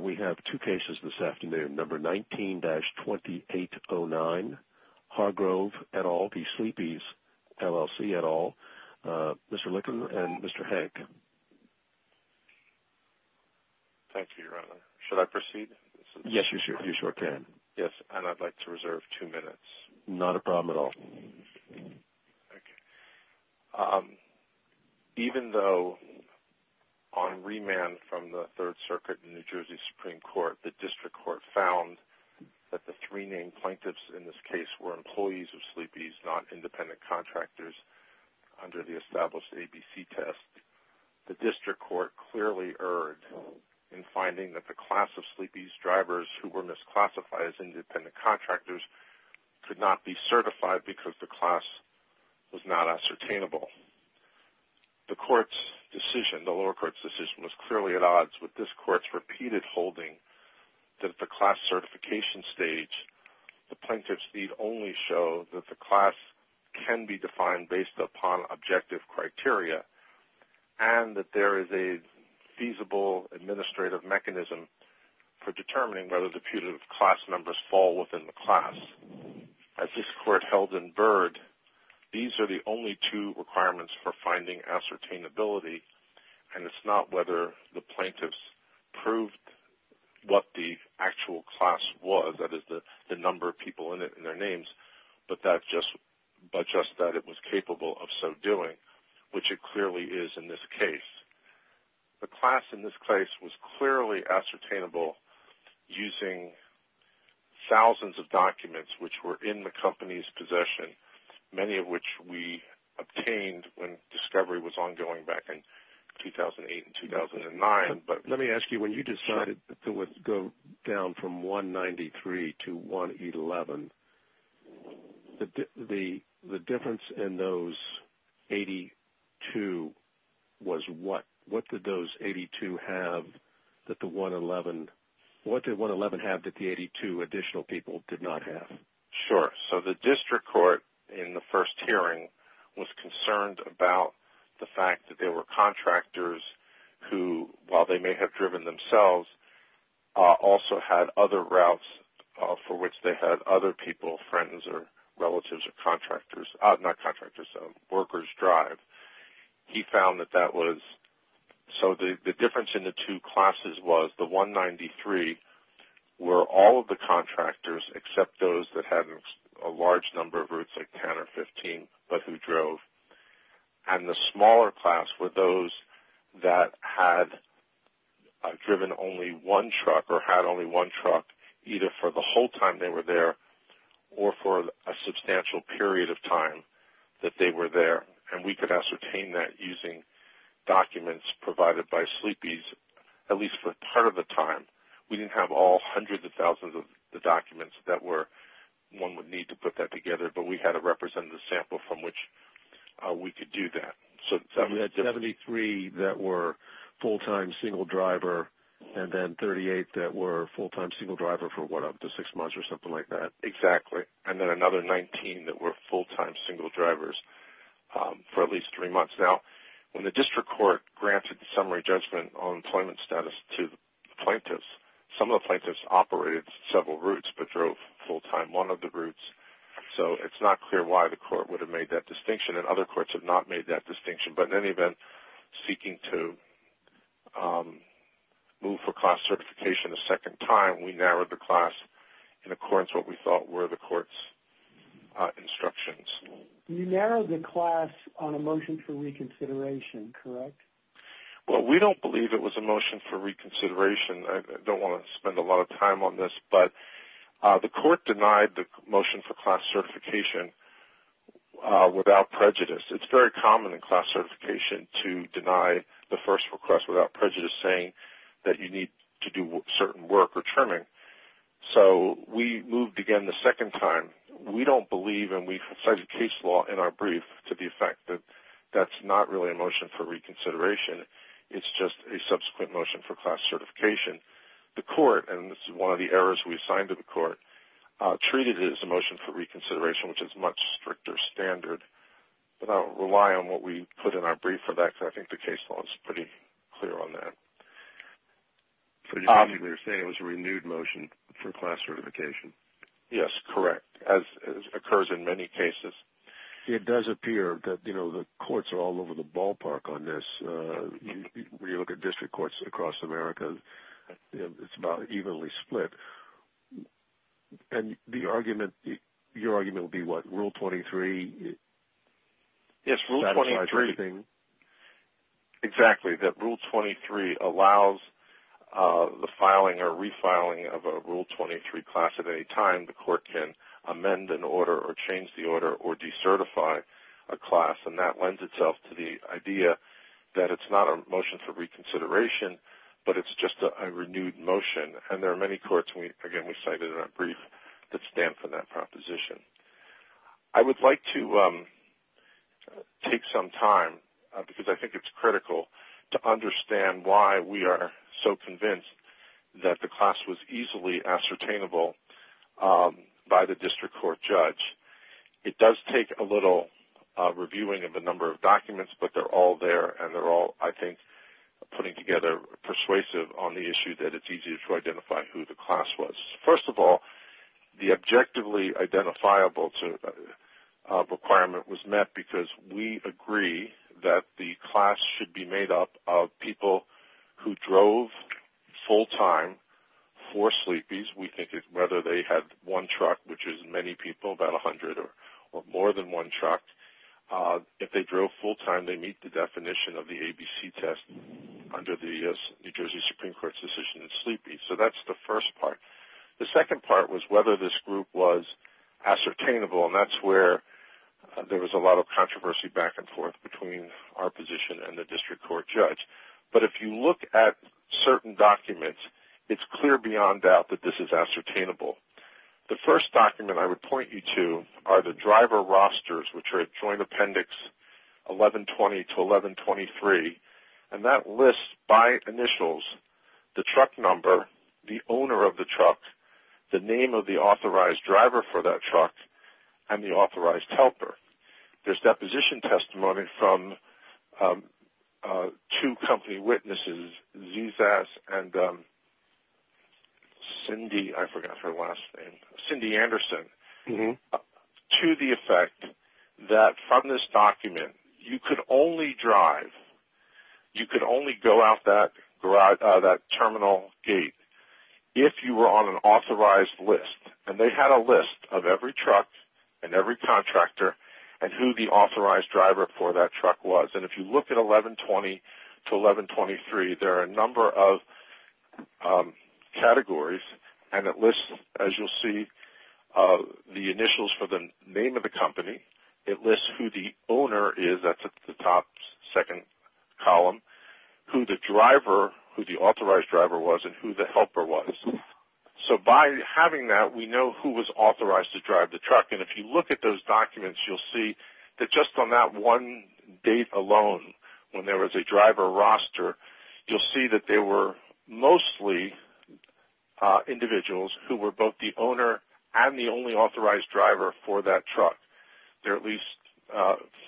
We have two cases this afternoon. Number 19-2809, Hargrove, et al., v. Sleepys, LLC, et al., Mr. Licken and Mr. Hank. Thank you, Your Honor. Should I proceed? Yes, you sure can. Yes, and I'd like to reserve two minutes. Not a problem at all. Okay. Even though on remand from the Third Circuit in New Jersey Supreme Court, the district court found that the three named plaintiffs in this case were employees of Sleepys, not independent contractors under the established ABC test, the district court clearly erred in finding that the class of Sleepys drivers who were misclassified as independent contractors could not be certified because the class was not ascertainable. The lower court's decision was clearly at odds with this court's repeated holding that at the class certification stage, the plaintiffs need only show that the class can be defined based upon objective criteria and that there is a feasible administrative mechanism for determining whether the putative class numbers fall within the class. As this court held in Byrd, these are the only two requirements for finding ascertainability, and it's not whether the plaintiffs proved what the actual class was, that is, the number of people in it and their names, but just that it was capable of so doing, which it clearly is in this case. The class in this case was clearly ascertainable using thousands of documents which were in the company's possession, many of which we obtained when discovery was ongoing back in 2008 and 2009. Let me ask you, when you decided to go down from 193 to 111, the difference in those 82 was what? What did those 82 have that the 111 had that the 82 additional people did not have? Sure. So the district court in the first hearing was concerned about the fact that there were contractors who, while they may have driven themselves, also had other routes for which they had other people, friends or relatives or contractors, not contractors, workers drive. He found that that was so the difference in the two classes was the 193 were all of the contractors except those that had a large number of routes, like 10 or 15, but who drove. And the smaller class were those that had driven only one truck or had only one truck either for the whole time they were there or for a substantial period of time that they were there. And we could ascertain that using documents provided by sleepies, at least for part of the time. We didn't have all hundreds of thousands of documents that one would need to put that together, but we had to represent the sample from which we could do that. So 73 that were full-time single driver and then 38 that were full-time single driver for one up to six months or something like that. Exactly. And then another 19 that were full-time single drivers for at least three months. Now, when the district court granted the summary judgment on employment status to plaintiffs, some of the plaintiffs operated several routes but drove full-time one of the routes. So it's not clear why the court would have made that distinction, and other courts have not made that distinction. But in any event, seeking to move for class certification a second time, we narrowed the class in accordance with what we thought were the court's instructions. You narrowed the class on a motion for reconsideration, correct? Well, we don't believe it was a motion for reconsideration. I don't want to spend a lot of time on this, but the court denied the motion for class certification without prejudice. It's very common in class certification to deny the first request without prejudice, saying that you need to do certain work or trimming. So we moved again the second time. We don't believe, and we cite a case law in our brief to the effect that that's not really a motion for reconsideration. It's just a subsequent motion for class certification. The court, and this is one of the errors we assigned to the court, treated it as a motion for reconsideration, which is a much stricter standard. But I'll rely on what we put in our brief for that, because I think the case law is pretty clear on that. So you're saying it was a renewed motion for class certification? Yes, correct, as occurs in many cases. It does appear that the courts are all over the ballpark on this. When you look at district courts across America, it's about evenly split. And your argument would be what, Rule 23? Yes, Rule 23. Exactly, that Rule 23 allows the filing or refiling of a Rule 23 class at any time. The court can amend an order or change the order or decertify a class, and that lends itself to the idea that it's not a motion for reconsideration, but it's just a renewed motion. And there are many courts, again, we cited in our brief that stand for that proposition. I would like to take some time, because I think it's critical, to understand why we are so convinced that the class was easily ascertainable by the district court judge. It does take a little reviewing of a number of documents, but they're all there, and they're all, I think, putting together persuasive on the issue that it's easier to identify who the class was. First of all, the objectively identifiable requirement was met because we agree that the class should be made up of people who drove full-time for sleepies. We think it's whether they had one truck, which is many people, about 100, or more than one truck. If they drove full-time, they meet the definition of the ABC test under the New Jersey Supreme Court's decision of sleepies. So that's the first part. The second part was whether this group was ascertainable, and that's where there was a lot of controversy back and forth between our position and the district court judge. But if you look at certain documents, it's clear beyond doubt that this is ascertainable. The first document I would point you to are the driver rosters, which are Joint Appendix 1120 to 1123, and that lists by initials the truck number, the owner of the truck, the name of the authorized driver for that truck, and the authorized helper. There's deposition testimony from two company witnesses, Zsas and Cindy Anderson, to the effect that from this document you could only drive, you could only go out that terminal gate if you were on an authorized list. And they had a list of every truck and every contractor and who the authorized driver for that truck was. And if you look at 1120 to 1123, there are a number of categories, and it lists, as you'll see, the initials for the name of the company. It lists who the owner is, that's at the top second column, who the authorized driver was and who the helper was. So by having that, we know who was authorized to drive the truck. And if you look at those documents, you'll see that just on that one date alone, when there was a driver roster, you'll see that there were mostly individuals who were both the owner and the only authorized driver for that truck. There are at least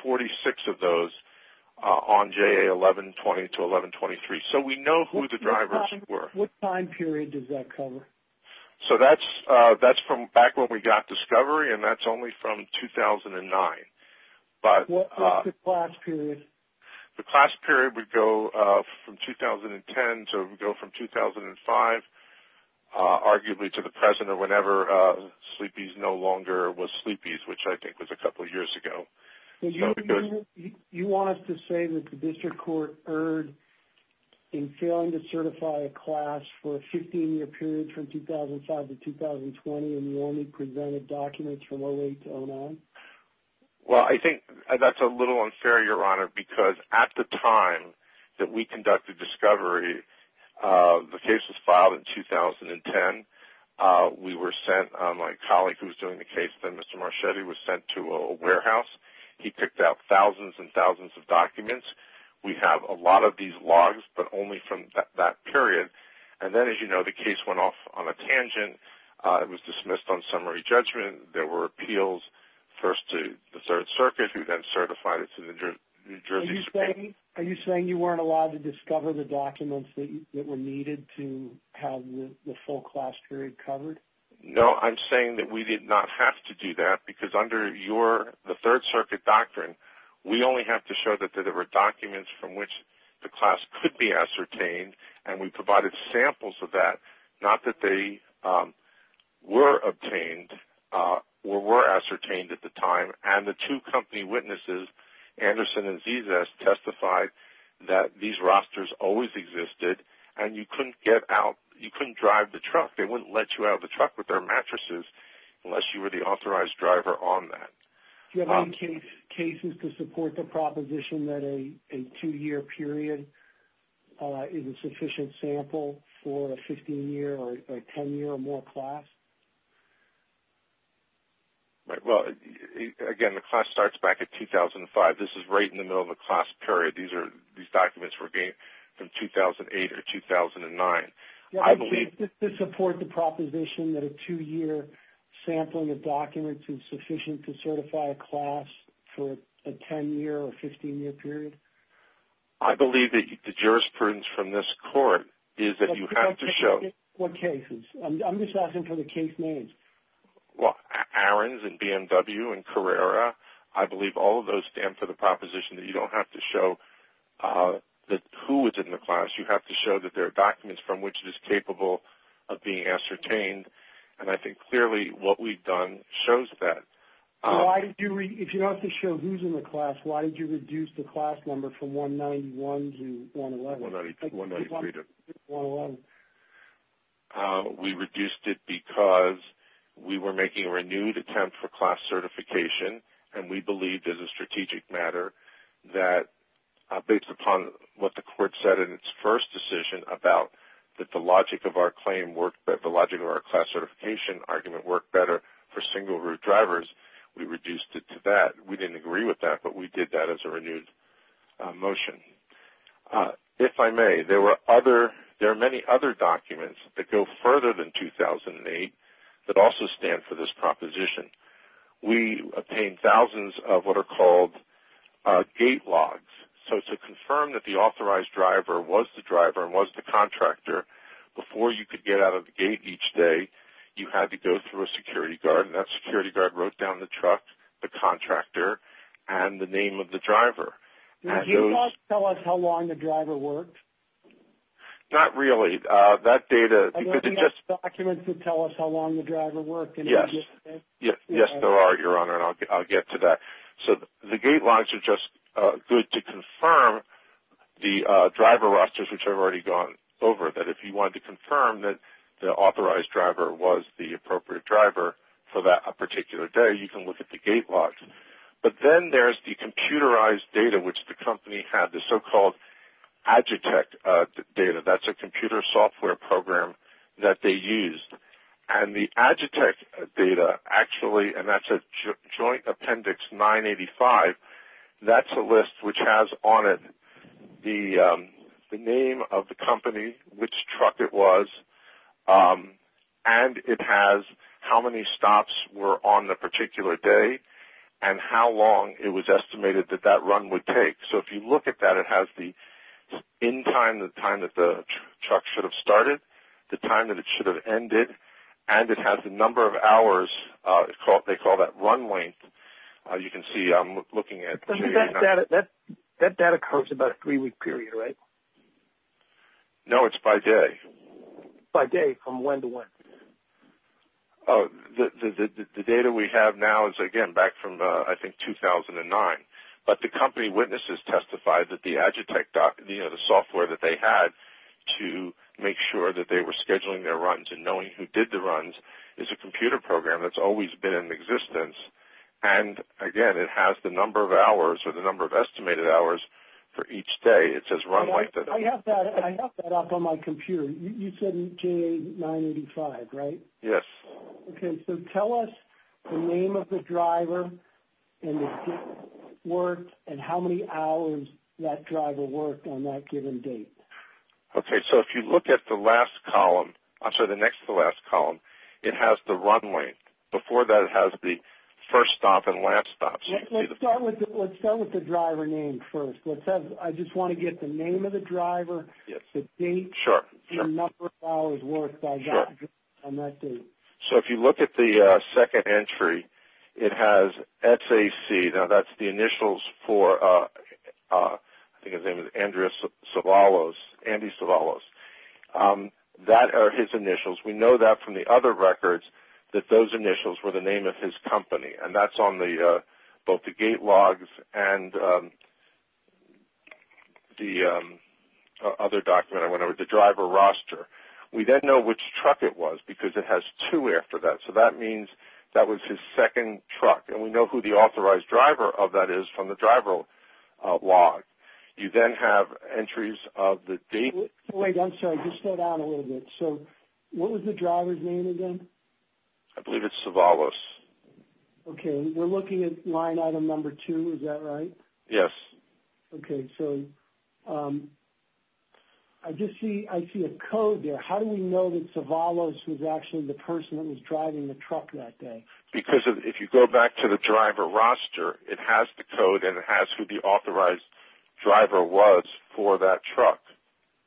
46 of those on JA 1120 to 1123. So we know who the drivers were. What time period does that cover? So that's from back when we got Discovery, and that's only from 2009. What's the class period? The class period would go from 2010 to 2005, arguably to the present or whenever Sleepy's no longer was Sleepy's, which I think was a couple of years ago. You want us to say that the district court erred in failing to certify a class for a 15-year period from 2005 to 2020 and you only presented documents from 08 to 09? Well, I think that's a little unfair, Your Honor, because at the time that we conducted Discovery, the case was filed in 2010. We were sent, my colleague who was doing the case, Mr. Marchetti, was sent to a warehouse. He picked out thousands and thousands of documents. We have a lot of these logs, but only from that period. And then, as you know, the case went off on a tangent. It was dismissed on summary judgment. There were appeals first to the Third Circuit, who then certified it to the New Jersey Supreme Court. Are you saying you weren't allowed to discover the documents that were needed to have the full class period covered? No, I'm saying that we did not have to do that, because under the Third Circuit doctrine, we only have to show that there were documents from which the class could be ascertained, and we provided samples of that, not that they were obtained or were ascertained at the time. And the two company witnesses, Anderson and Zizas, testified that these rosters always existed, and you couldn't drive the truck. They wouldn't let you out of the truck with their mattresses unless you were the authorized driver on that. Do you have any cases to support the proposition that a two-year period is a sufficient sample for a 15-year or a 10-year or more class? Well, again, the class starts back in 2005. This is right in the middle of a class period. These documents were obtained from 2008 or 2009. Do you have any cases to support the proposition that a two-year sampling of documents is sufficient to certify a class for a 10-year or 15-year period? I believe that the jurisprudence from this Court is that you have to show. What cases? I'm just asking for the case names. Well, Arons and BMW and Carrera. I believe all of those stand for the proposition that you don't have to show who was in the class. You have to show that there are documents from which it is capable of being ascertained, and I think clearly what we've done shows that. If you don't have to show who's in the class, why did you reduce the class number from 191 to 111? 191 to 111. We reduced it because we were making a renewed attempt for class certification, and we believed as a strategic matter that based upon what the Court said in its first decision about that the logic of our class certification argument worked better for single root drivers, we reduced it to that. We didn't agree with that, but we did that as a renewed motion. If I may, there are many other documents that go further than 2008 that also stand for this proposition. We obtained thousands of what are called gate logs. So to confirm that the authorized driver was the driver and was the contractor, before you could get out of the gate each day, you had to go through a security guard, and that security guard wrote down the truck, the contractor, and the name of the driver. Did the gate logs tell us how long the driver worked? Not really. That data, because it just – I know we have documents that tell us how long the driver worked. Yes. Yes, there are, Your Honor, and I'll get to that. So the gate logs are just good to confirm the driver rosters, which I've already gone over, that if you wanted to confirm that the authorized driver was the appropriate driver for that particular day, you can look at the gate logs. But then there's the computerized data, which the company had, the so-called Agitech data. That's a computer software program that they used. And the Agitech data actually – and that's a joint appendix 985. That's a list which has on it the name of the company, which truck it was, and it has how many stops were on the particular day and how long it was estimated that that run would take. So if you look at that, it has the in time, the time that the truck should have started, the time that it should have ended, and it has the number of hours. They call that run length. You can see I'm looking at – That data comes about a three-week period, right? No, it's by day. By day, from when to when? The data we have now is, again, back from, I think, 2009. But the company witnesses testified that the Agitech – the software that they had to make sure that they were scheduling their runs and knowing who did the runs is a computer program that's always been in existence. And, again, it has the number of hours or the number of estimated hours for each day. It says run length. I have that up on my computer. You said J985, right? Yes. Okay. So tell us the name of the driver and the date it worked and how many hours that driver worked on that given date. Okay. So if you look at the last column – I'm sorry, the next to the last column, it has the run length. Before that, it has the first stop and last stop. Let's start with the driver name first. I just want to get the name of the driver, the date, and the number of hours worked by that driver on that date. Sure. So if you look at the second entry, it has SAC. Now, that's the initials for – I think his name was Andreas Savalos, Andy Savalos. That are his initials. We know that from the other records that those initials were the name of his company, and that's on both the gate logs and the other document I went over, the driver roster. We then know which truck it was because it has two after that. So that means that was his second truck, and we know who the authorized driver of that is from the driver log. You then have entries of the date. Wait, I'm sorry. Just slow down a little bit. So what was the driver's name again? I believe it's Savalos. Okay. We're looking at line item number two. Is that right? Yes. Okay. So I just see – I see a code there. How do we know that Savalos was actually the person that was driving the truck that day? Because if you go back to the driver roster, it has the code and it has who the authorized driver was for that truck.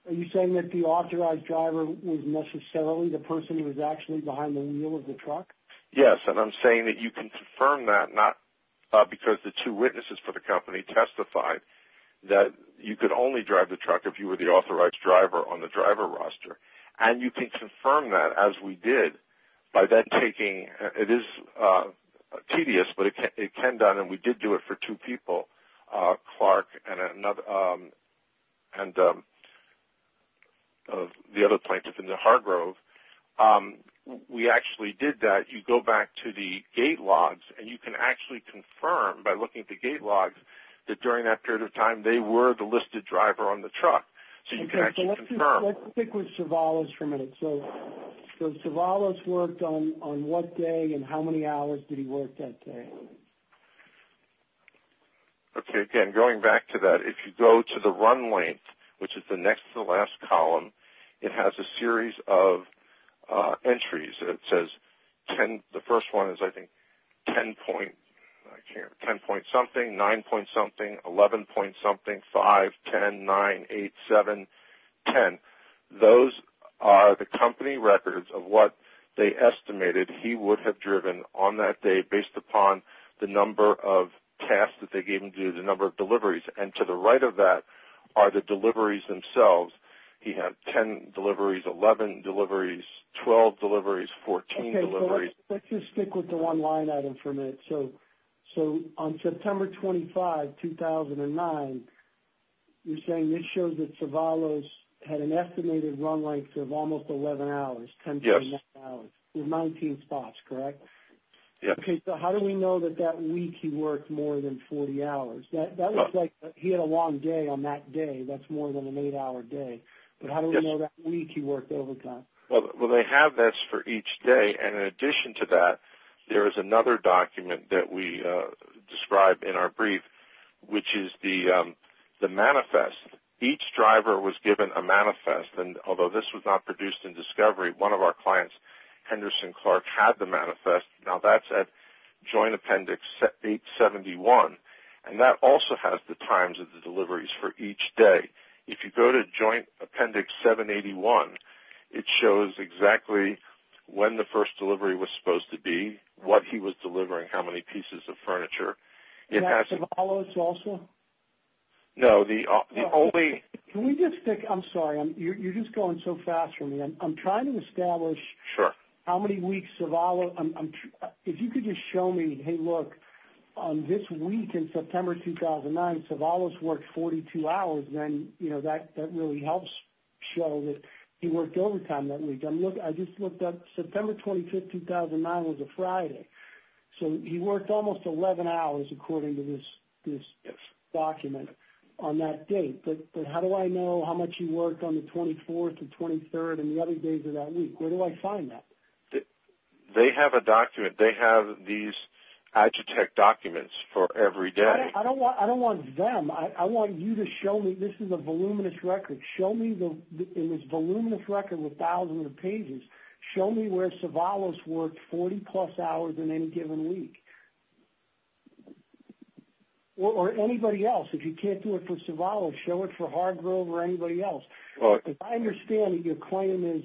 Are you saying that the authorized driver was necessarily the person who was actually behind the wheel of the truck? Yes, and I'm saying that you can confirm that, not because the two witnesses for the company testified that you could only drive the truck if you were the authorized driver on the driver roster. And you can confirm that, as we did, by then taking – it is tedious, but it can be done, and we did do it for two people, Clark and the other plaintiff in the Hargrove. We actually did that. You go back to the gate logs, and you can actually confirm by looking at the gate logs that during that period of time they were the listed driver on the truck. So you can actually confirm. Okay, so let's stick with Savalos for a minute. So Savalos worked on what day and how many hours did he work that day? Okay, again, going back to that, if you go to the run length, which is the next to the last column, it has a series of entries. It says the first one is, I think, 10 point something, 9 point something, 11 point something, 5, 10, 9, 8, 7, 10. Those are the company records of what they estimated he would have driven on that day, based upon the number of tasks that they gave him to do, the number of deliveries. And to the right of that are the deliveries themselves. He had 10 deliveries, 11 deliveries, 12 deliveries, 14 deliveries. Okay, so let's just stick with the one line item for a minute. So on September 25, 2009, you're saying this shows that Savalos had an estimated run length of almost 11 hours, 10.9 hours, with 19 spots, correct? Yes. Okay, so how do we know that that week he worked more than 40 hours? That looks like he had a long day on that day. That's more than an 8-hour day. But how do we know that week he worked overtime? Well, they have this for each day. And in addition to that, there is another document that we describe in our brief, which is the manifest. Each driver was given a manifest, and although this was not produced in discovery, one of our clients, Henderson Clark, had the manifest. Now that's at Joint Appendix 871. And that also has the times of the deliveries for each day. If you go to Joint Appendix 781, it shows exactly when the first delivery was supposed to be, what he was delivering, how many pieces of furniture. Is that Savalos also? No, the only – Can we just pick – I'm sorry, you're just going so fast for me. I'm trying to establish how many weeks Savalos – if you could just show me, hey, look, this week in September 2009, Savalos worked 42 hours, and that really helps show that he worked overtime that week. I just looked up September 25, 2009 was a Friday. So he worked almost 11 hours according to this document on that date. But how do I know how much he worked on the 24th and 23rd and the other days of that week? Where do I find that? They have a document. They have these Agitech documents for every day. I don't want them. I want you to show me – this is a voluminous record. Show me in this voluminous record with thousands of pages, show me where Savalos worked 40-plus hours in any given week. Or anybody else. If you can't do it for Savalos, show it for Hargrove or anybody else. As I understand it, your claim is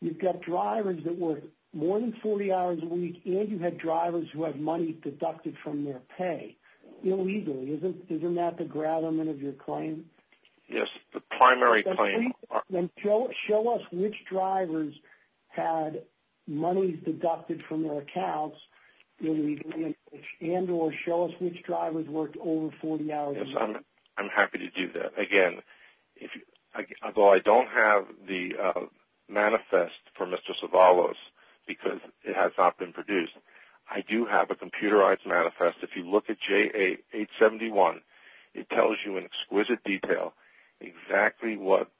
you've got drivers that work more than 40 hours a week and you had drivers who had money deducted from their pay illegally. Isn't that the gravamen of your claim? Yes, the primary claim. Then show us which drivers had money deducted from their accounts illegally and or show us which drivers worked over 40 hours a week. I'm happy to do that. Again, although I don't have the manifest for Mr. Savalos because it has not been produced, I do have a computerized manifest. If you look at JA871, it tells you in exquisite detail exactly what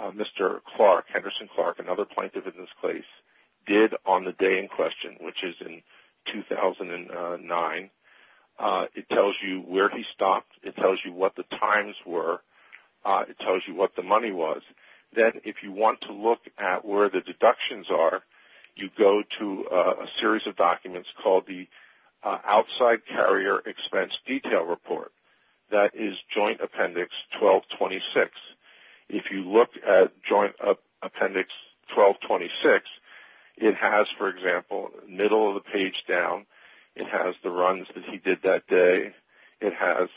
Mr. Clark, Henderson Clark, another plaintiff in this case, did on the day in question, which is in 2009. It tells you where he stopped. It tells you what the times were. It tells you what the money was. Then if you want to look at where the deductions are, you go to a series of documents called the Outside Carrier Expense Detail Report. That is Joint Appendix 1226. If you look at Joint Appendix 1226, it has, for example, middle of the page down. It has the runs that he did that day. It has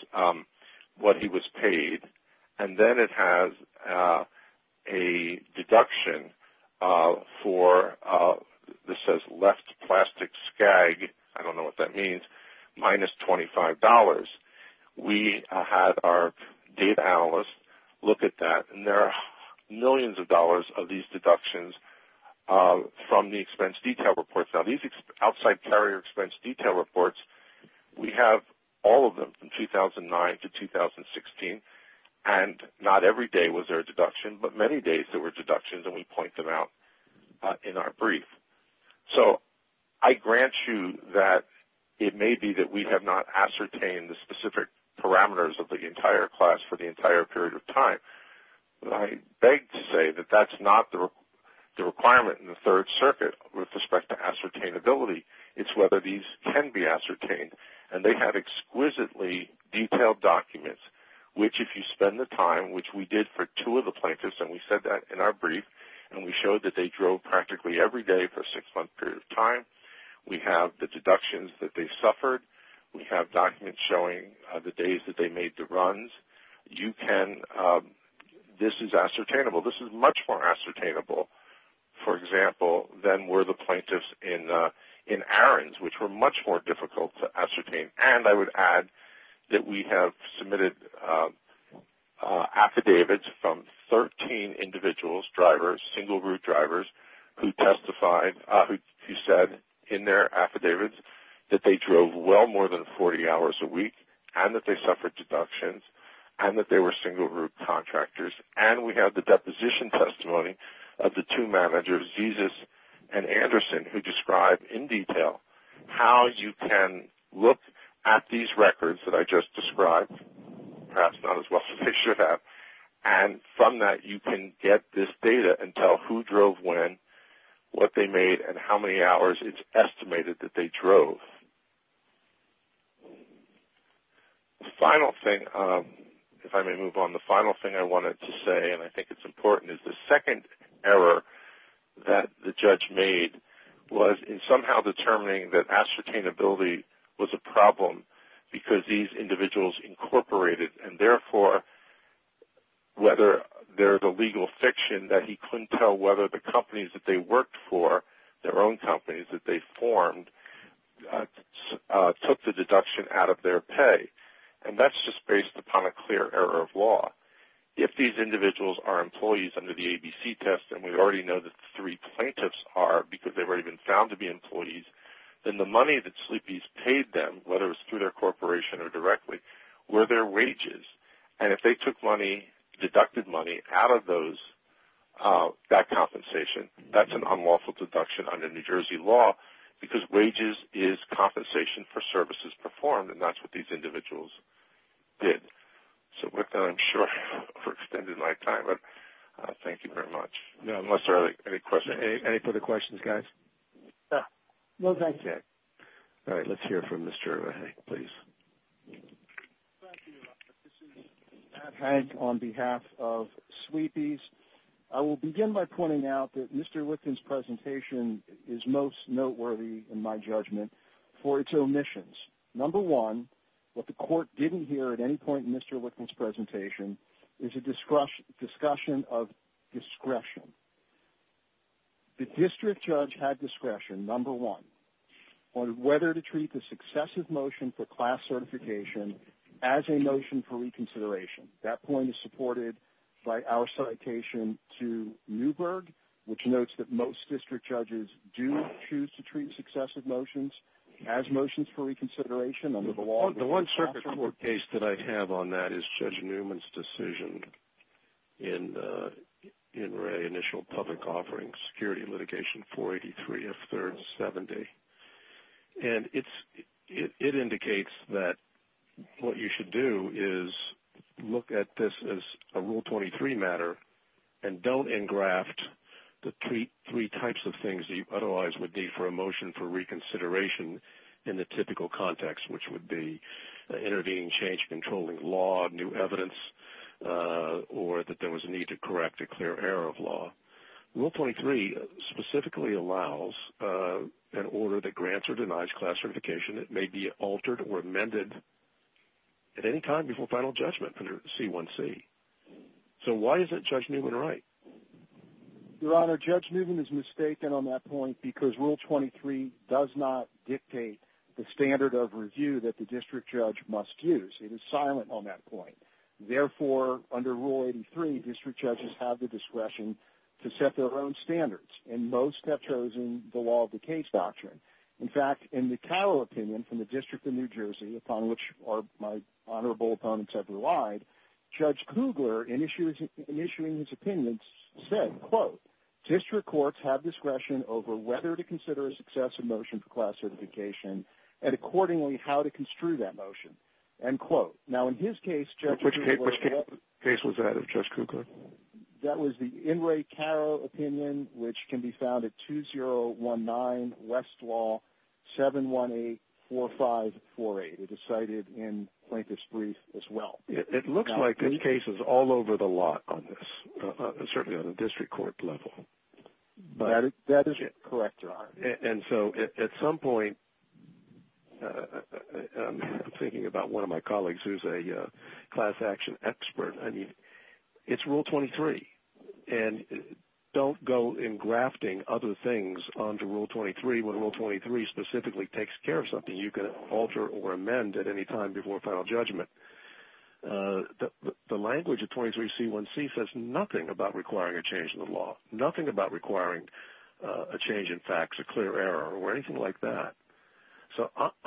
what he was paid. And then it has a deduction for, this says left plastic skag, I don't know what that means, minus $25. We had our data analyst look at that, and there are millions of dollars of these deductions from the expense detail reports. Now, these Outside Carrier Expense Detail Reports, we have all of them from 2009 to 2016, and not every day was there a deduction, but many days there were deductions, and we point them out in our brief. So I grant you that it may be that we have not ascertained the specific parameters of the entire class for the entire period of time. I beg to say that that's not the requirement in the Third Circuit with respect to ascertainability. It's whether these can be ascertained, and they have exquisitely detailed documents, which if you spend the time, which we did for two of the plaintiffs, and we said that in our brief, and we showed that they drove practically every day for a six-month period of time. We have the deductions that they suffered. This is ascertainable. This is much more ascertainable, for example, than were the plaintiffs in errands, which were much more difficult to ascertain. And I would add that we have submitted affidavits from 13 individuals, drivers, single-group drivers who testified, who said in their affidavits that they drove well more than 40 hours a week and that they suffered deductions and that they were single-group contractors. And we have the deposition testimony of the two managers, Jesus and Anderson, who describe in detail how you can look at these records that I just described, perhaps not as well as they should have, and from that you can get this data and tell who drove when, what they made, and how many hours it's estimated that they drove. The final thing, if I may move on, the final thing I wanted to say, and I think it's important, is the second error that the judge made was in somehow determining that ascertainability was a problem because these individuals incorporated, and therefore whether there's a legal fiction that he couldn't tell whether the companies that they worked for, their own companies that they formed, took the deduction out of their pay. And that's just based upon a clear error of law. If these individuals are employees under the ABC test, and we already know that the three plaintiffs are because they were even found to be employees, then the money that sleepies paid them, whether it was through their corporation or directly, were their wages. And if they took money, deducted money, out of those, that compensation, that's an unlawful deduction under New Jersey law because wages is compensation for services performed, and that's what these individuals did. So with that, I'm sure I've extended my time, but thank you very much. Unless there are any further questions, guys? No, thank you. Okay. All right, let's hear from Mr. Haag, please. Thank you. This is Pat Haag on behalf of Sleepies. I will begin by pointing out that Mr. Lipton's presentation is most noteworthy, in my judgment, for its omissions. Number one, what the court didn't hear at any point in Mr. Lipton's presentation is a discussion of discretion. The district judge had discretion, number one, on whether to treat the successive motion for class certification as a motion for reconsideration. That point is supported by our citation to Newberg, which notes that most district judges do choose to treat successive motions as motions for reconsideration under the law. The one circuit court case that I have on that is Judge Newman's decision in Ray's initial public offering, Security Litigation 483 of 3rd 70. And it indicates that what you should do is look at this as a Rule 23 matter and don't engraft the three types of things that you otherwise would need for a motion for reconsideration in the typical context, which would be intervening, change, controlling law, new evidence, or that there was a need to correct a clear error of law. Rule 23 specifically allows an order that grants or denies class certification. It may be altered or amended at any time before final judgment under C1C. So why isn't Judge Newman right? Your Honor, Judge Newman is mistaken on that point because Rule 23 does not dictate the standard of review that the district judge must use. It is silent on that point. Therefore, under Rule 83, district judges have the discretion to set their own standards, and most have chosen the law of the case doctrine. In fact, in the Carroll opinion from the District of New Jersey, upon which my honorable opponents have relied, Judge Kugler, in issuing his opinions, said, quote, District courts have discretion over whether to consider a successive motion for class certification and accordingly how to construe that motion, end quote. Now in his case, Judge Kugler – Which case was that of Judge Kugler? That was the Inouye Carroll opinion, which can be found at 2019 Westlaw 7184548. It is cited in Plaintiff's brief as well. It looks like there are cases all over the lot on this, certainly on a district court level. That is correct, Your Honor. And so at some point, I'm thinking about one of my colleagues who is a class action expert. I mean, it's Rule 23, and don't go engrafting other things onto Rule 23 when Rule 23 specifically takes care of something you can alter or amend at any time before final judgment. The language of 23C1C says nothing about requiring a change in the law, nothing about requiring a change in facts, a clear error, or anything like that. So what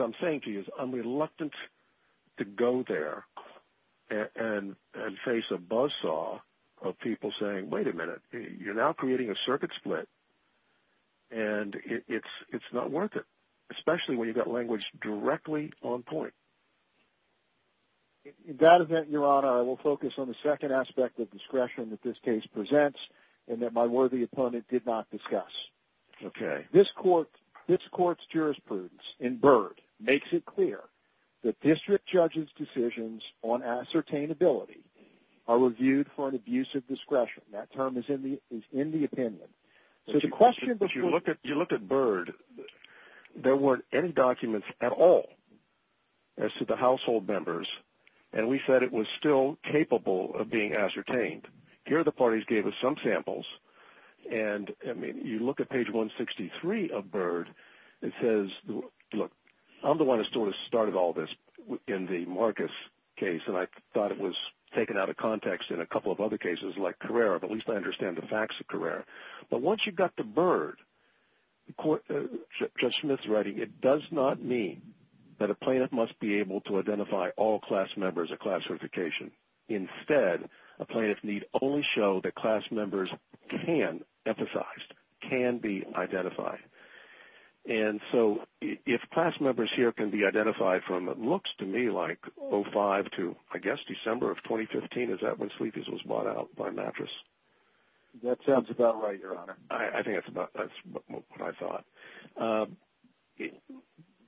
I'm saying to you is I'm reluctant to go there and face a buzzsaw of people saying, wait a minute, you're now creating a circuit split, and it's not worth it, especially when you've got language directly on point. In that event, Your Honor, I will focus on the second aspect of discretion that this case presents and that my worthy opponent did not discuss. This court's jurisprudence in Byrd makes it clear that district judges' decisions on ascertainability are reviewed for an abuse of discretion. That term is in the opinion. If you look at Byrd, there weren't any documents at all as to the household members, and we said it was still capable of being ascertained. Here the parties gave us some samples, and you look at page 163 of Byrd, it says, look, I'm the one who sort of started all this in the Marcus case, and I thought it was taken out of context in a couple of other cases like Carrera, but at least I understand the facts of Carrera. But once you got to Byrd, Judge Smith's writing, it does not mean that a plaintiff must be able to identify all class members at class certification. Instead, a plaintiff need only show that class members can emphasize, can be identified. And so if class members here can be identified from it looks to me like 05 to I guess December of 2015, is that when Sleepy's was bought out by Mattress? That sounds about right, Your Honor. I think that's what I thought.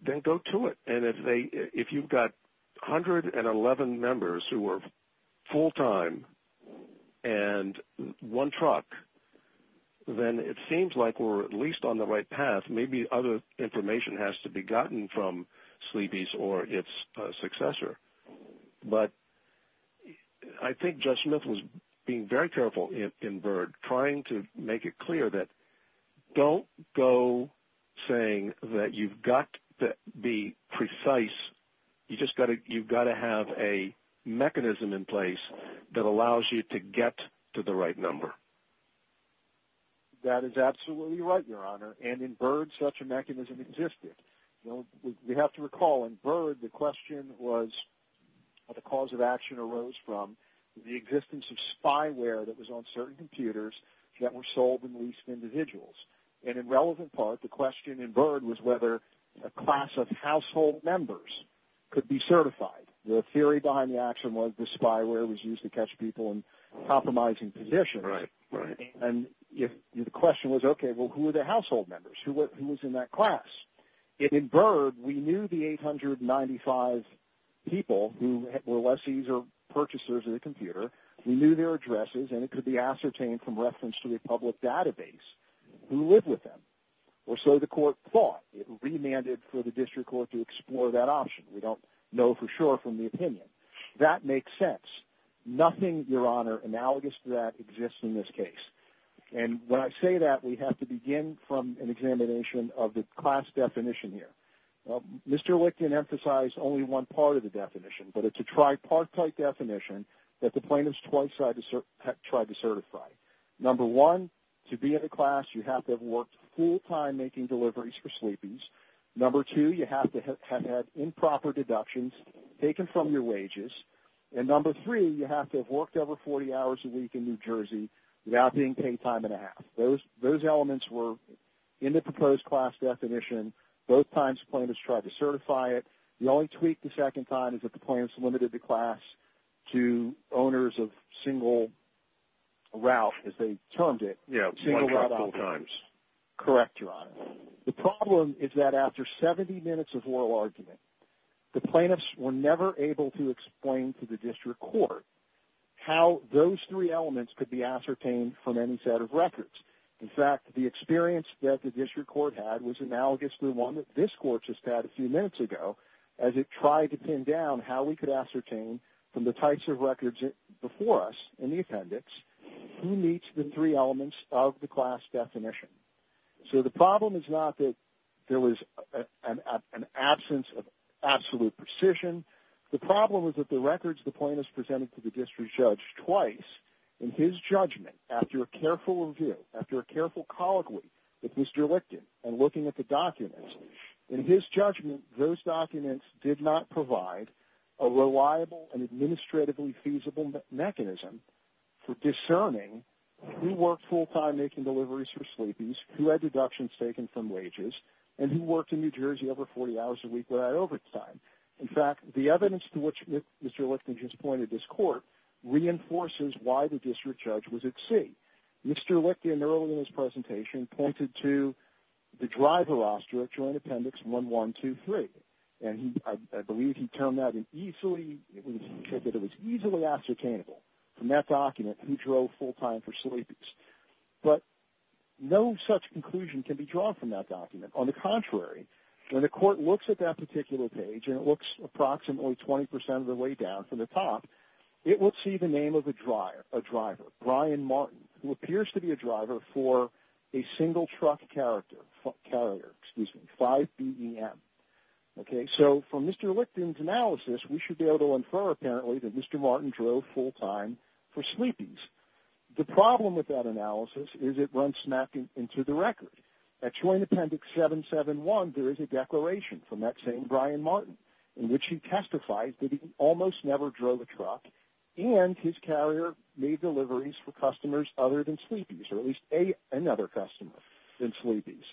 Then go to it. And if you've got 111 members who were full-time and one truck, then it seems like we're at least on the right path. Maybe other information has to be gotten from Sleepy's or its successor. But I think Judge Smith was being very careful in Byrd, trying to make it clear that don't go saying that you've got to be precise. You've got to have a mechanism in place that allows you to get to the right number. That is absolutely right, Your Honor. And in Byrd such a mechanism existed. We have to recall in Byrd the question was what the cause of action arose from, the existence of spyware that was on certain computers that were sold and leased to individuals. And in relevant part, the question in Byrd was whether a class of household members could be certified. The theory behind the action was the spyware was used to catch people in compromising positions. Right, right. And the question was, okay, well, who were the household members? Who was in that class? In Byrd, we knew the 895 people who were lessees or purchasers of the computer. We knew their addresses, and it could be ascertained from reference to a public database. Who lived with them? Or so the court thought. It remanded for the district court to explore that option. We don't know for sure from the opinion. That makes sense. Nothing, Your Honor, analogous to that exists in this case. And when I say that, we have to begin from an examination of the class definition here. Mr. Licton emphasized only one part of the definition, but it's a tripartite definition that the plaintiffs twice tried to certify. Number one, to be in a class you have to have worked full-time making deliveries for sleepings. Number two, you have to have had improper deductions taken from your wages. And number three, you have to have worked over 40 hours a week in New Jersey without being paid time and a half. Those elements were in the proposed class definition. Both times the plaintiffs tried to certify it. The only tweak the second time is that the plaintiffs limited the class to owners of single route, as they termed it. Yes, multiple times. Correct, Your Honor. The problem is that after 70 minutes of oral argument, the plaintiffs were never able to explain to the district court how those three elements could be ascertained from any set of records. In fact, the experience that the district court had was analogous to the one that this court just had a few minutes ago as it tried to pin down how we could ascertain from the types of records before us in the appendix who meets the three elements of the class definition. So the problem is not that there was an absence of absolute precision. The problem is that the records the plaintiffs presented to the district judge twice, in his judgment, after a careful review, after a careful colloquy with Mr. Lichten and looking at the documents, in his judgment, those documents did not provide a reliable and administratively feasible mechanism for discerning who worked full-time making deliveries for sleepies, who had deductions taken from wages, and who worked in New Jersey over 40 hours a week without overtime. In fact, the evidence to which Mr. Lichten just pointed this court reinforces why the district judge was at sea. Mr. Lichten, earlier in his presentation, pointed to the driver roster at Joint Appendix 1123, and I believe he termed that as easily ascertainable from that document who drove full-time for sleepies. But no such conclusion can be drawn from that document. On the contrary, when the court looks at that particular page, and it looks approximately 20% of the way down from the top, it will see the name of a driver, Brian Martin, who appears to be a driver for a single-truck carrier, 5BEM. So from Mr. Lichten's analysis, we should be able to infer, apparently, that Mr. Martin drove full-time for sleepies. The problem with that analysis is it runs smack into the record. At Joint Appendix 771, there is a declaration from that same Brian Martin in which he testifies that he almost never drove a truck, and his carrier made deliveries for customers other than sleepies, or at least another customer than sleepies.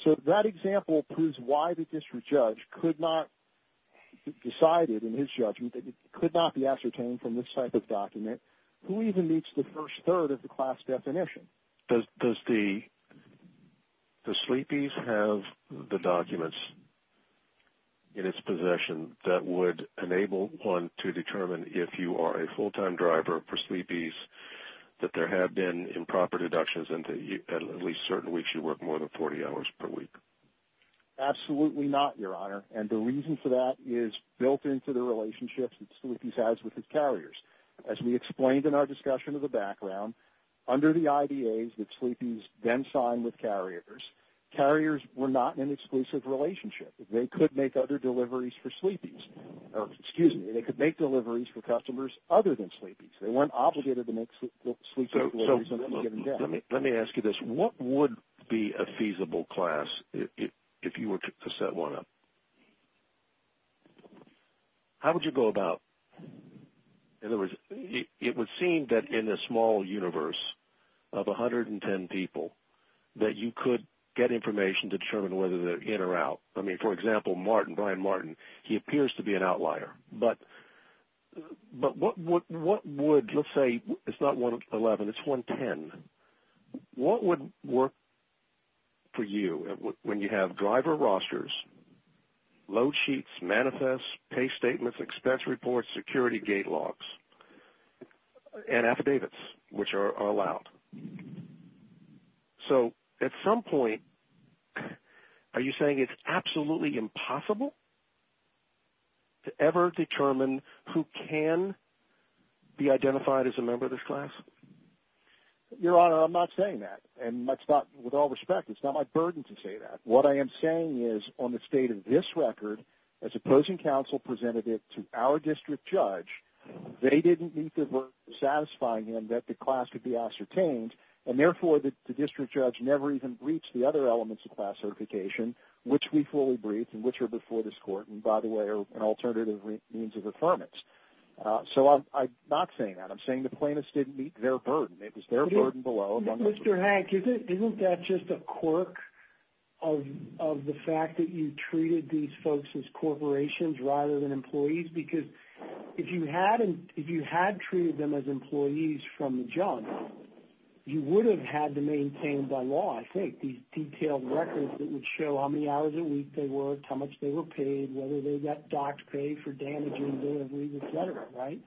So that example proves why the district judge decided in his judgment that it could not be ascertained from this type of document, who even meets the first third of the class definition. Does sleepies have the documents in its possession that would enable one to determine if you are a full-time driver for sleepies, that there have been improper deductions and at least certain weeks you work more than 40 hours per week? Absolutely not, Your Honor, and the reason for that is built into the relationships that sleepies has with its carriers. As we explained in our discussion of the background, under the IDAs that sleepies then sign with carriers, carriers were not in an exclusive relationship. They could make other deliveries for sleepies. Excuse me. They could make deliveries for customers other than sleepies. They weren't obligated to make sleep deliveries. Let me ask you this. What would be a feasible class if you were to set one up? How would you go about it? In other words, it would seem that in a small universe of 110 people that you could get information to determine whether they're in or out. I mean, for example, Martin, Brian Martin, he appears to be an outlier. But what would, let's say it's not 111, it's 110, what would work for you when you have driver rosters, load sheets, manifest, pay statements, expense reports, security gate logs, and affidavits which are allowed? So at some point, are you saying it's absolutely impossible to ever determine who can be identified as a member of this class? Your Honor, I'm not saying that. And with all respect, it's not my burden to say that. What I am saying is on the state of this record, as opposing counsel presented it to our district judge, they didn't meet the burden of satisfying him that the class could be ascertained, and therefore the district judge never even briefed the other elements of class certification, which we fully briefed and which are before this court and, by the way, are an alternative means of affirmance. So I'm not saying that. I'm saying the plaintiffs didn't meet their burden. It was their burden below. Mr. Hank, isn't that just a quirk of the fact that you treated these folks as corporations rather than employees? Because if you had treated them as employees from the jump, you would have had to maintain by law, I think, these detailed records that would show how many hours a week they worked, how much they were paid, whether they got docked pay for damaging their lease, et cetera, right?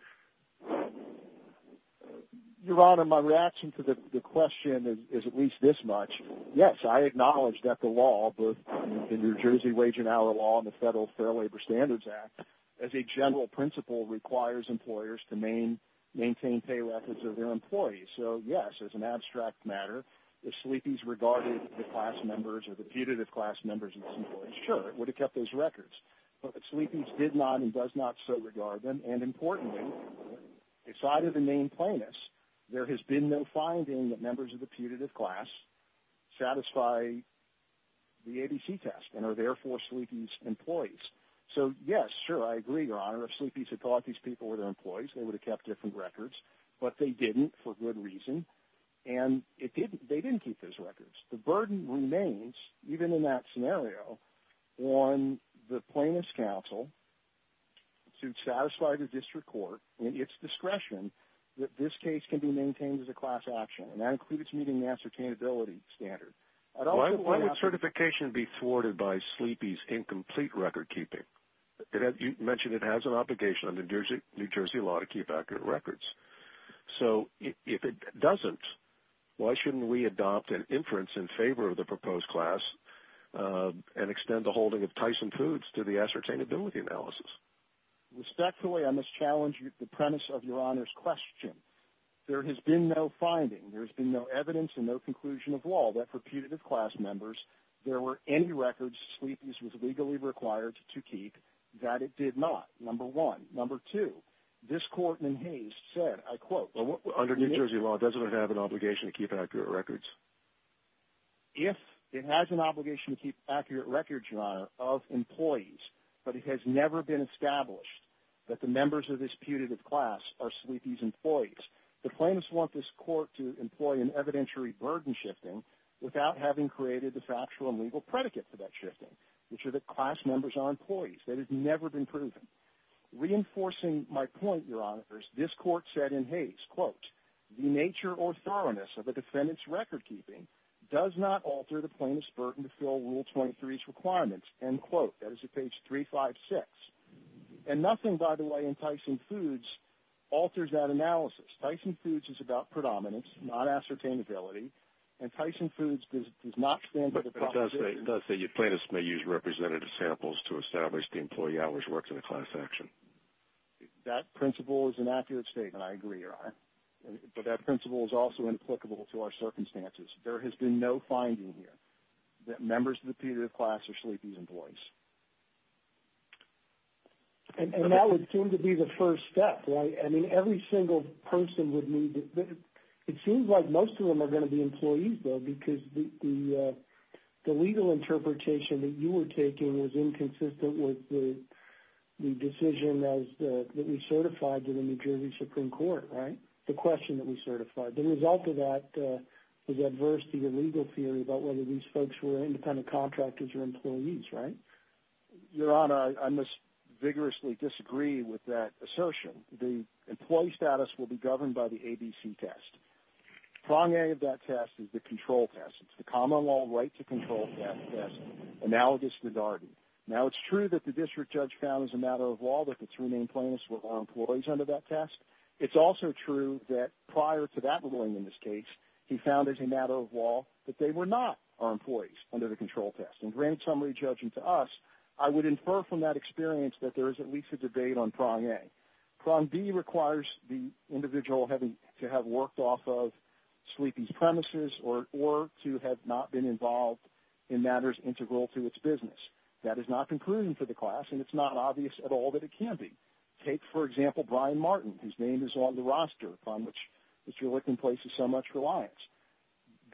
Your Honor, my reaction to the question is at least this much. Yes, I acknowledge that the law, the New Jersey Wage and Hour Law and the Federal Fair Labor Standards Act, as a general principle requires employers to maintain pay records of their employees. So, yes, as an abstract matter, if sleepies regarded the class members or the putative class members as employees, sure, it would have kept those records. But if sleepies did not and does not so regard them, and importantly decided to name plainness, there has been no finding that members of the putative class satisfy the ABC test and are therefore sleepies' employees. So, yes, sure, I agree, Your Honor, if sleepies had thought these people were their employees, they would have kept different records. But they didn't for good reason, and they didn't keep those records. The burden remains, even in that scenario, on the Plainness Council to satisfy the district court in its discretion that this case can be maintained as a class action, and that includes meeting the ascertainability standard. Why would certification be thwarted by sleepies' incomplete record keeping? You mentioned it has an obligation under New Jersey law to keep accurate records. So if it doesn't, why shouldn't we adopt an inference in favor of the proposed class and extend the holding of Tyson Foods to the ascertainability analysis? Respectfully, I must challenge the premise of Your Honor's question. There has been no finding, there has been no evidence, and no conclusion of law that for putative class members there were any records sleepies was legally required to keep that it did not, number one. Number two, this court in Hays said, I quote, Under New Jersey law, does it have an obligation to keep accurate records? If it has an obligation to keep accurate records, Your Honor, of employees, but it has never been established that the members of this putative class are sleepies' employees, the plaintiffs want this court to employ an evidentiary burden shifting without having created the factual and legal predicate for that shifting, which are that class members are employees. That has never been proven. Reinforcing my point, Your Honor, this court said in Hays, quote, The nature or thoroughness of a defendant's record-keeping does not alter the plaintiff's burden to fill Rule 23's requirements, end quote. That is at page 356. And nothing, by the way, in Tyson Foods alters that analysis. Tyson Foods is about predominance, not ascertainability, and Tyson Foods does not stand for the proposition that plaintiffs may use representative samples to establish the employee always works in a class action. That principle is an accurate statement, I agree, Your Honor. But that principle is also implicable to our circumstances. There has been no finding here that members of the putative class are sleepies' employees. And that would seem to be the first step, right? I mean, every single person would need to – it seems like most of them are going to be employees, though, because the legal interpretation that you were taking was inconsistent with the decision that we certified to the New Jersey Supreme Court, right? The question that we certified. The result of that was adverse to your legal theory about whether these folks were independent contractors or employees, right? Your Honor, I must vigorously disagree with that assertion. The employee status will be governed by the ABC test. Prong A of that test is the control test. It's the common law right to control test, analogous to Darden. Now, it's true that the district judge found as a matter of law that the three main plaintiffs were all employees under that test. It's also true that prior to that ruling in this case, he found as a matter of law that they were not all employees under the control test. And granted somebody judging to us, I would infer from that experience that there is at least a debate on Prong A. Prong B requires the individual to have worked off of Sleepy's premises or to have not been involved in matters integral to its business. That is not concluding for the class, and it's not obvious at all that it can be. Take, for example, Brian Martin, whose name is on the roster, upon which Mr. Lichten places so much reliance.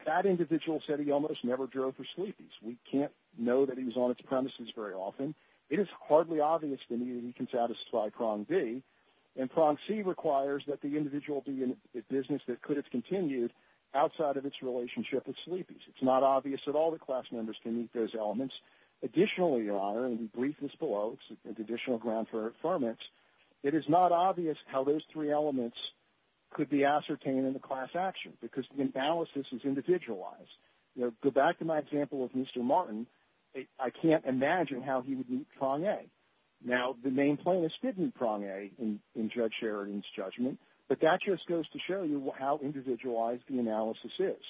That individual said he almost never drove for Sleepy's. We can't know that he was on its premises very often. It is hardly obvious to me that he can satisfy Prong B. And Prong C requires that the individual be in a business that could have continued outside of its relationship with Sleepy's. It's not obvious at all that class members can meet those elements. Additionally, Your Honor, and we brief this below, it's additional ground for affirmance, it is not obvious how those three elements could be ascertained in the class action because the imbalances is individualized. Go back to my example of Mr. Martin. I can't imagine how he would meet Prong A. Now, the main plaintiff did meet Prong A in Judge Sheridan's judgment, but that just goes to show you how individualized the analysis is.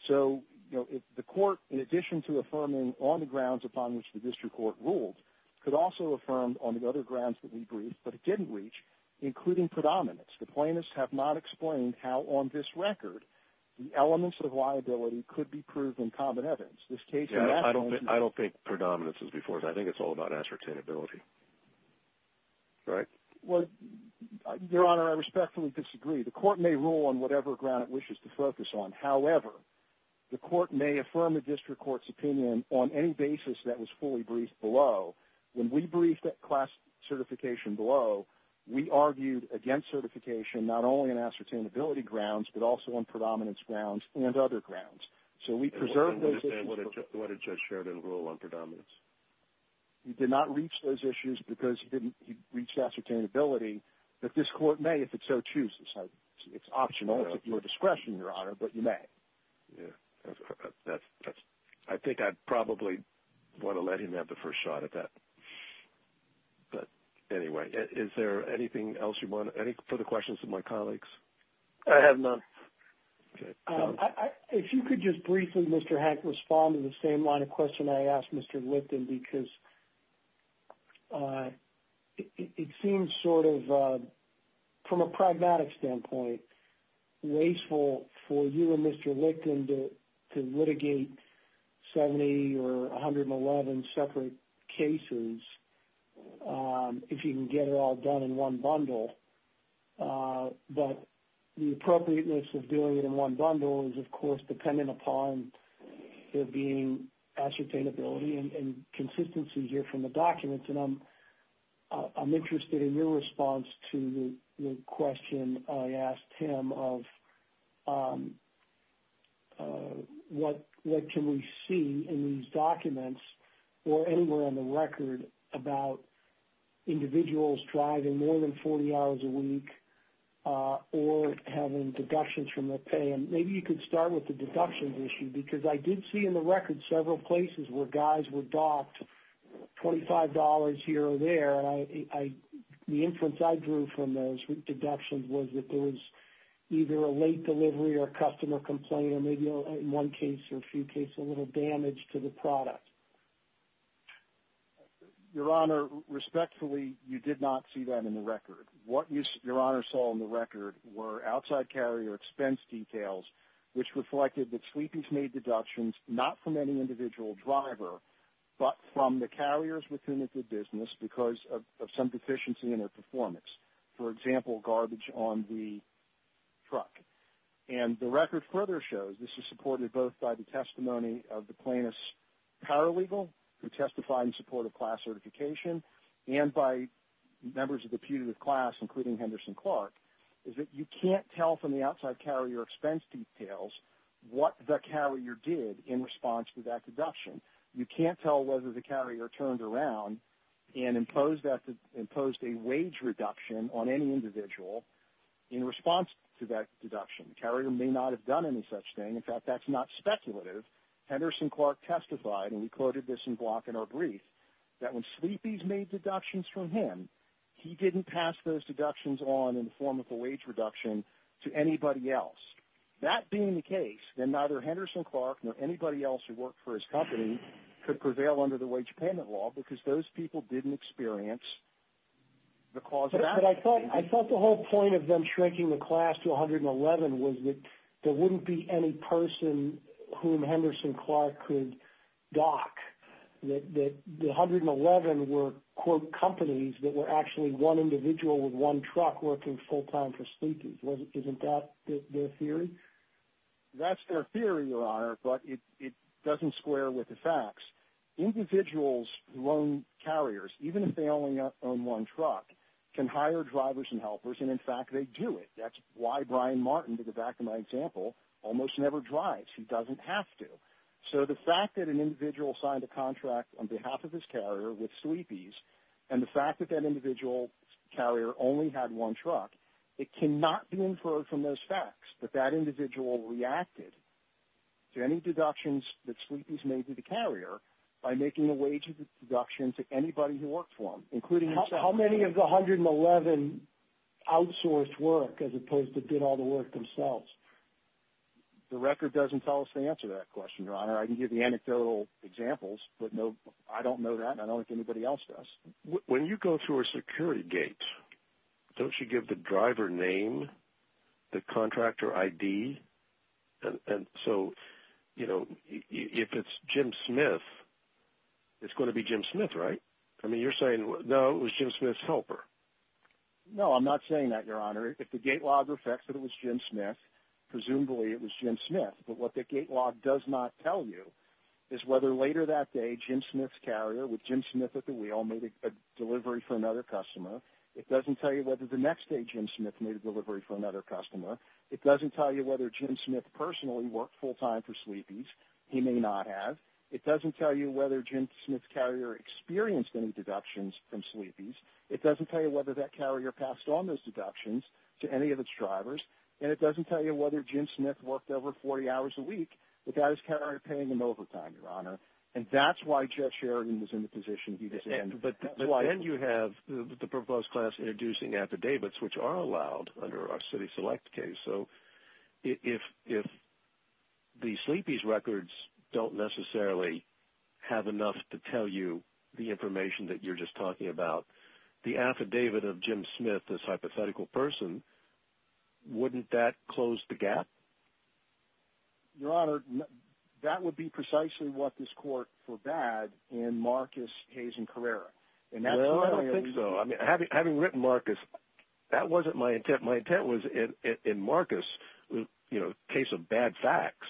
So the court, in addition to affirming on the grounds upon which the district court ruled, could also affirm on the other grounds that we briefed, but it didn't reach, including predominance. The plaintiffs have not explained how on this record the elements of liability could be proved in common evidence. I don't think predominance is before us. I think it's all about ascertainability. Your Honor, I respectfully disagree. The court may rule on whatever ground it wishes to focus on. However, the court may affirm a district court's opinion on any basis that was fully briefed below. When we briefed that class certification below, we argued against certification not only on ascertainability grounds but also on predominance grounds and other grounds. So we preserved those issues. And what did Judge Sheridan rule on predominance? He did not reach those issues because he didn't reach ascertainability, but this court may if it so chooses. It's optional. It's at your discretion, Your Honor, but you may. I think I'd probably want to let him have the first shot at that. But anyway, is there anything else you want to – any further questions of my colleagues? I have none. Okay. If you could just briefly, Mr. Hank, respond to the same line of question I asked Mr. Lipton, because it seems sort of, from a pragmatic standpoint, wasteful for you and Mr. Lipton to litigate 70 or 111 separate cases if you can get it all done in one bundle. But the appropriateness of doing it in one bundle is, of course, dependent upon there being ascertainability and consistency here from the documents. And I'm interested in your response to the question I asked him of what can we see in these documents or anywhere on the record about individuals driving more than 40 hours a week or having deductions from their pay. And maybe you could start with the deductions issue, because I did see in the record several places where guys were docked $25 here or there. The inference I drew from those deductions was that there was either a late delivery or a customer complaint or maybe in one case or a few cases a little damage to the product. Your Honor, respectfully, you did not see that in the record. What Your Honor saw in the record were outside carrier expense details, which reflected that sleepies made deductions not from any individual driver, but from the carriers within the business because of some deficiency in their performance, for example, garbage on the truck. And the record further shows this is supported both by the testimony of the plaintiff's paralegal who testified in support of class certification and by members of the putative class, including Henderson Clark, is that you can't tell from the outside carrier expense details what the carrier did in response to that deduction. You can't tell whether the carrier turned around and imposed a wage reduction on any individual in response to that deduction. The carrier may not have done any such thing. In fact, that's not speculative. Henderson Clark testified, and we quoted this in Glock in our brief, that when sleepies made deductions from him, he didn't pass those deductions on in the form of a wage reduction to anybody else. That being the case, then neither Henderson Clark nor anybody else who worked for his company could prevail under the wage payment law because those people didn't experience the cause of that. But I thought the whole point of them shrinking the class to 111 was that there wouldn't be any person whom Henderson Clark could dock, that the 111 were, quote, companies that were actually one individual with one truck working full-time for sleepies. Isn't that their theory? That's their theory, Your Honor, but it doesn't square with the facts. Individuals who own carriers, even if they only own one truck, can hire drivers and helpers, and in fact they do it. That's why Brian Martin, to go back to my example, almost never drives. He doesn't have to. So the fact that an individual signed a contract on behalf of his carrier with sleepies and the fact that that individual carrier only had one truck, it cannot be inferred from those facts that that individual reacted to any deductions that sleepies made to the carrier by making a wage deduction to anybody who worked for them, including himself. How many of the 111 outsourced work as opposed to did all the work themselves? The record doesn't tell us the answer to that question, Your Honor. I can give you anecdotal examples, but I don't know that, and I don't know if anybody else does. When you go through a security gate, don't you give the driver name, the contractor ID? And so, you know, if it's Jim Smith, it's going to be Jim Smith, right? I mean, you're saying, no, it was Jim Smith's helper. No, I'm not saying that, Your Honor. If the gate log reflects that it was Jim Smith, presumably it was Jim Smith, but what the gate log does not tell you is whether later that day Jim Smith's carrier with Jim Smith at the wheel made a delivery for another customer. It doesn't tell you whether the next day Jim Smith made a delivery for another customer. It doesn't tell you whether Jim Smith personally worked full-time for sleepies. He may not have. It doesn't tell you whether Jim Smith's carrier experienced any deductions from sleepies. It doesn't tell you whether that carrier passed on those deductions to any of its drivers, and it doesn't tell you whether Jim Smith worked over 40 hours a week without his carrier paying him overtime, Your Honor. And that's why Jeff Sheridan was in the position he was in. But then you have the proposed class introducing affidavits, which are allowed under our city-select case. So if the sleepies records don't necessarily have enough to tell you the information that you're just talking about, the affidavit of Jim Smith, this hypothetical person, wouldn't that close the gap? Your Honor, that would be precisely what this court forbade in Marcus Hayes and Carrera. No, I don't think so. I mean, having written Marcus, that wasn't my intent. My intent was in Marcus, you know, case of bad facts.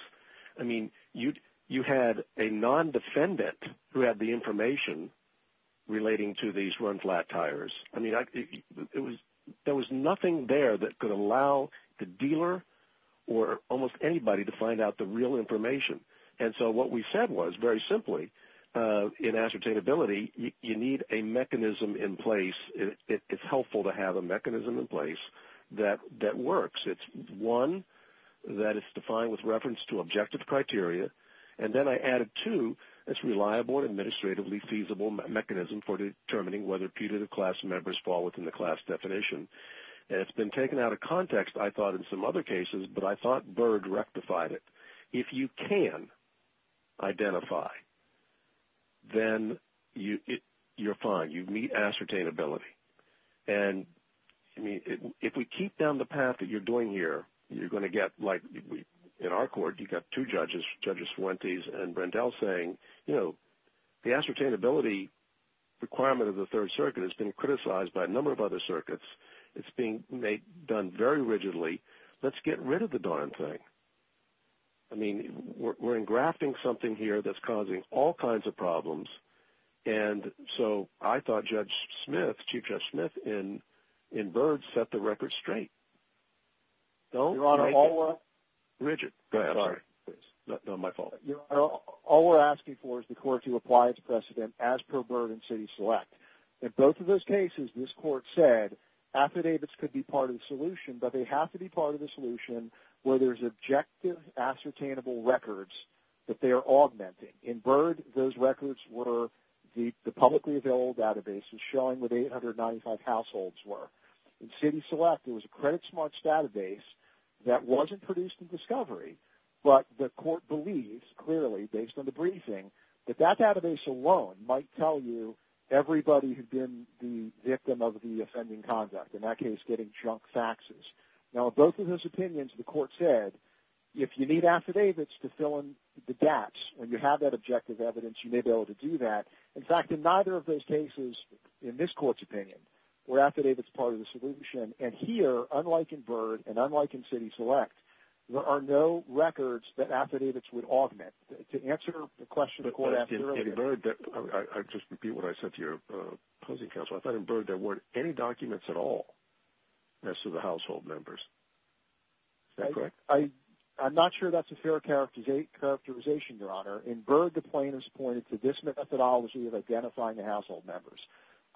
I mean, you had a non-defendant who had the information relating to these run-flat tires. I mean, there was nothing there that could allow the dealer or almost anybody to find out the real information. And so what we said was, very simply, in ascertainability, you need a mechanism in place. It's helpful to have a mechanism in place that works. It's, one, that it's defined with reference to objective criteria. And then I added, two, it's a reliable and administratively feasible mechanism for determining whether putative class members fall within the class definition. And it's been taken out of context, I thought, in some other cases, but I thought Byrd rectified it. If you can identify, then you're fine. You meet ascertainability. And, I mean, if we keep down the path that you're doing here, you're going to get, like, in our court, you've got two judges, Judge Fuentes and Brendel, saying, you know, the ascertainability requirement of the Third Circuit has been criticized by a number of other circuits. It's being done very rigidly. Let's get rid of the darn thing. I mean, we're engrafting something here that's causing all kinds of problems. And so I thought Judge Smith, Chief Judge Smith, in Byrd, set the record straight. Your Honor, all we're asking for is the court to apply its precedent as per Byrd and City Select. In both of those cases, this court said affidavits could be part of the solution, but they have to be part of the solution where there's objective, ascertainable records that they are augmenting. In Byrd, those records were the publicly available databases showing what 895 households were. In City Select, it was a credit-smart database that wasn't produced in discovery, but the court believes, clearly, based on the briefing, that that database alone might tell you everybody who'd been the victim of the offending conduct, in that case, getting junk faxes. Now, in both of those opinions, the court said, if you need affidavits to fill in the gaps, and you have that objective evidence, you may be able to do that. In fact, in neither of those cases, in this court's opinion, were affidavits part of the solution. And here, unlike in Byrd and unlike in City Select, there are no records that affidavits would augment. To answer the question the court asked earlier. I just repeat what I said to your opposing counsel. I thought in Byrd there weren't any documents at all as to the household members. Is that correct? I'm not sure that's a fair characterization, Your Honor. In Byrd, the plaintiffs pointed to this methodology of identifying the household members.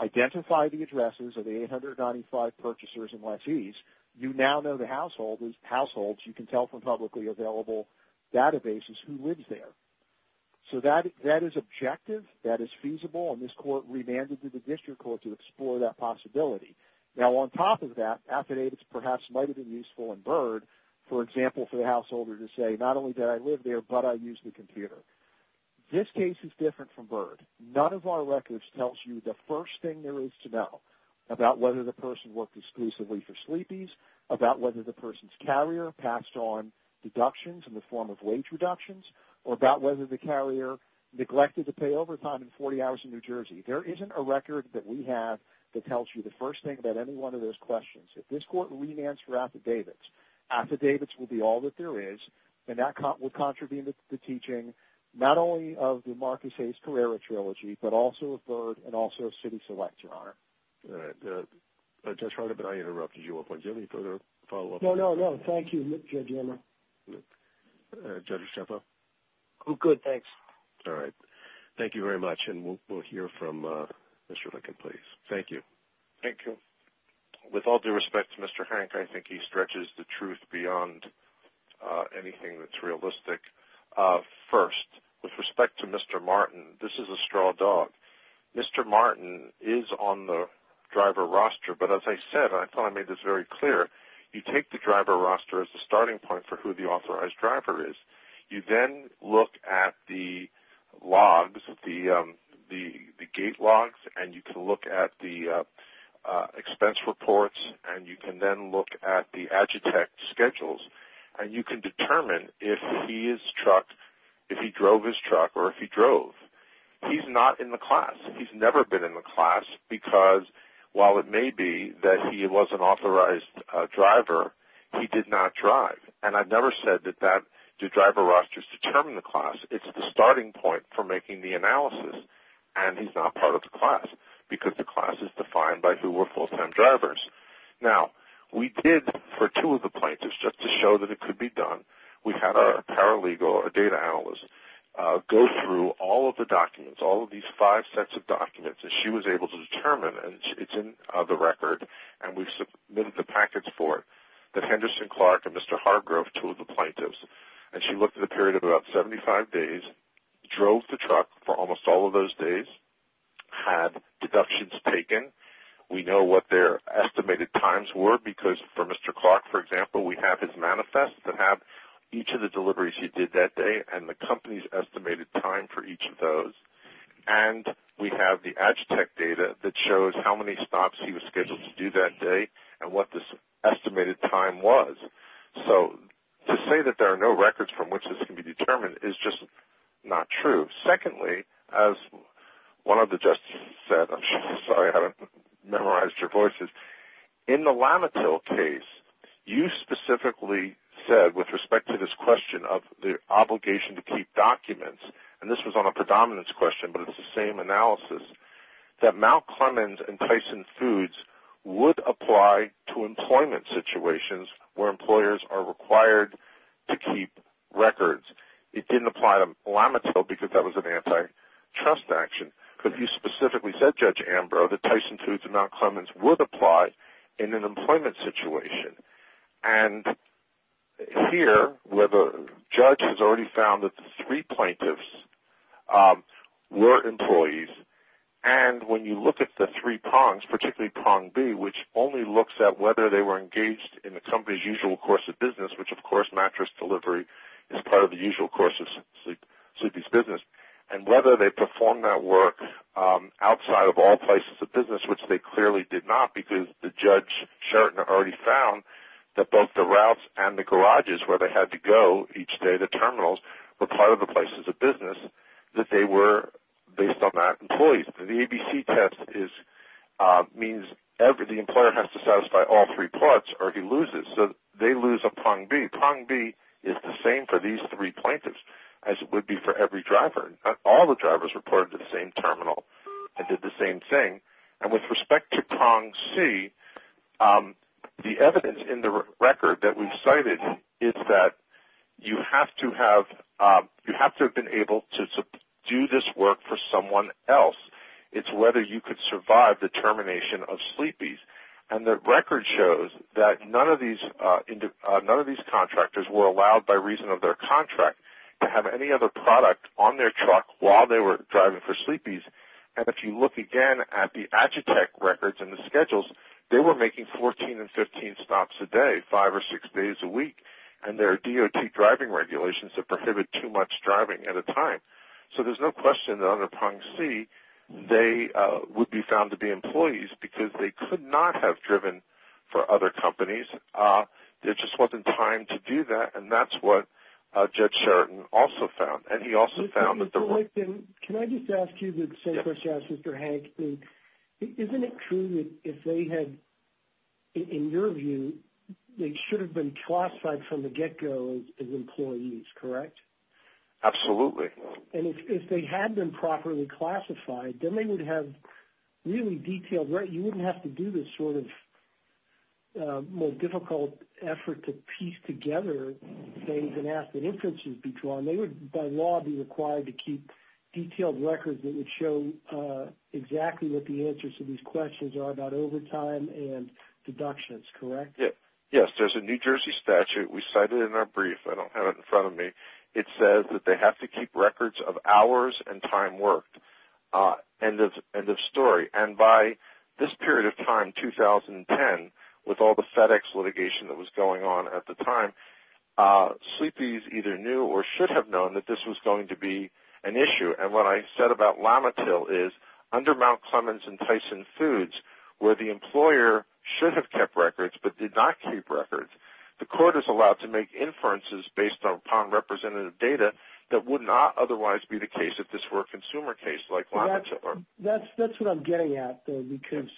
Identify the addresses of the 895 purchasers and lessees. You now know the households. You can tell from publicly available databases who lives there. So that is objective. That is feasible. And this court remanded to the district court to explore that possibility. Now, on top of that, affidavits perhaps might have been useful in Byrd, for example, for the householder to say not only did I live there, but I used the computer. This case is different from Byrd. None of our records tells you the first thing there is to know about whether the person worked exclusively for sleepies, about whether the person's carrier passed on deductions in the form of wage reductions, or about whether the carrier neglected to pay overtime in 40 hours in New Jersey. There isn't a record that we have that tells you the first thing about any one of those questions. If this court remands for affidavits, affidavits will be all that there is, and that will contribute to the teaching not only of the Marcus Hayes Carrera Trilogy, but also of Byrd and also of City Select, Your Honor. All right. Judge Harden, but I interrupted you. Do you have any further follow-up? No, no, no. Thank you, Judge Emmer. Judge Estrepo? I'm good, thanks. All right. Thank you very much, and we'll hear from Mr. Lincoln, please. Thank you. Thank you. With all due respect to Mr. Hank, I think he stretches the truth beyond anything that's realistic. First, with respect to Mr. Martin, this is a straw dog. Mr. Martin is on the driver roster, but as I said, and I thought I made this very clear, you take the driver roster as the starting point for who the authorized driver is. You then look at the logs, the gate logs, and you can look at the expense reports, and you can then look at the Agitech schedules, and you can determine if he is truck, if he drove his truck or if he drove. He's not in the class. He's never been in the class because, while it may be that he was an authorized driver, he did not drive. And I've never said that that driver roster is to determine the class. It's the starting point for making the analysis, and he's not part of the class because the class is defined by who were full-time drivers. Now, we did, for two of the plaintiffs, just to show that it could be done, we had a paralegal, a data analyst, go through all of the documents, all of these five sets of documents that she was able to determine, and it's in the record, and we've submitted the package for it that Henderson Clark and Mr. Hargrove, two of the plaintiffs, and she looked at a period of about 75 days, drove the truck for almost all of those days, had deductions taken. We know what their estimated times were because, for Mr. Clark, for example, we have his manifest that have each of the deliveries he did that day and the company's estimated time for each of those. And we have the Agitech data that shows how many stops he was scheduled to do that day and what this estimated time was. So to say that there are no records from which this can be determined is just not true. Secondly, as one of the justices said, I'm sorry I haven't memorized your voices, in the Lamatil case, you specifically said, with respect to this question of the obligation to keep documents, and this was on a predominance question but it's the same analysis, that Mount Clemens and Tyson Foods would apply to employment situations where employers are required to keep records. It didn't apply to Lamatil because that was an antitrust action. But you specifically said, Judge Ambrose, that Tyson Foods and Mount Clemens would apply in an employment situation. And here, the judge has already found that the three plaintiffs were employees. And when you look at the three prongs, particularly prong B, which only looks at whether they were engaged in the company's usual course of business, which of course mattress delivery is part of the usual course of sleepy's business, and whether they performed that work outside of all places of business, which they clearly did not because the judge, Sheraton, already found that both the routes and the garages where they had to go each day, the terminals, were part of the places of business, that they were based on that employee. The ABC test means the employer has to satisfy all three parts or he loses. So they lose a prong B. Prong B is the same for these three plaintiffs as it would be for every driver. All the drivers reported to the same terminal and did the same thing. And with respect to prong C, the evidence in the record that we've cited is that you have to have been able to do this work for someone else. It's whether you could survive the termination of sleepy's. And the record shows that none of these contractors were allowed by reason of their contract to have any other product on their truck while they were driving for sleepy's. And if you look again at the Agitech records and the schedules, they were making 14 and 15 stops a day, five or six days a week. And there are DOT driving regulations that prohibit too much driving at a time. So there's no question that under prong C they would be found to be employees because they could not have driven for other companies. There just wasn't time to do that. And that's what Judge Sheridan also found. And he also found that there were – Can I just ask you the same question as Mr. Hank? Isn't it true that if they had, in your view, they should have been classified from the get-go as employees, correct? Absolutely. And if they had been properly classified, then they would have really detailed – you wouldn't have to do this sort of difficult effort to piece together things and ask that inferences be drawn. They would, by law, be required to keep detailed records that would show exactly what the answers to these questions are about overtime and deductions, correct? Yes. There's a New Jersey statute. We cite it in our brief. I don't have it in front of me. It says that they have to keep records of hours and time worked. End of story. And by this period of time, 2010, with all the FedEx litigation that was going on at the time, sleepies either knew or should have known that this was going to be an issue. And what I said about Lamatil is, under Mount Clemens and Tyson Foods, where the employer should have kept records but did not keep records, the court is allowed to make inferences based upon representative data that would not otherwise be the case if this were a consumer case like Lamatil. That's what I'm getting at, though, because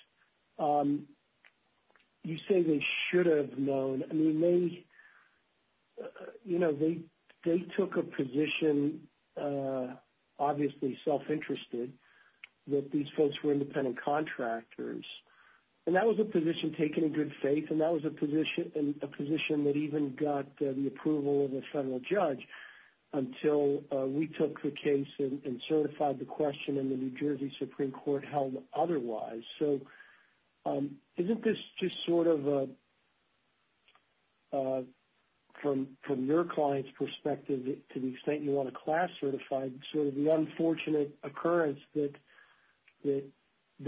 you say they should have known. I mean, they took a position, obviously self-interested, that these folks were independent contractors. And that was a position taken in good faith, and that was a position that even got the approval of a federal judge until we took the case and certified the question in the New Jersey Supreme Court held otherwise. So isn't this just sort of, from your client's perspective, to the extent you want a class certified, sort of the unfortunate occurrence that the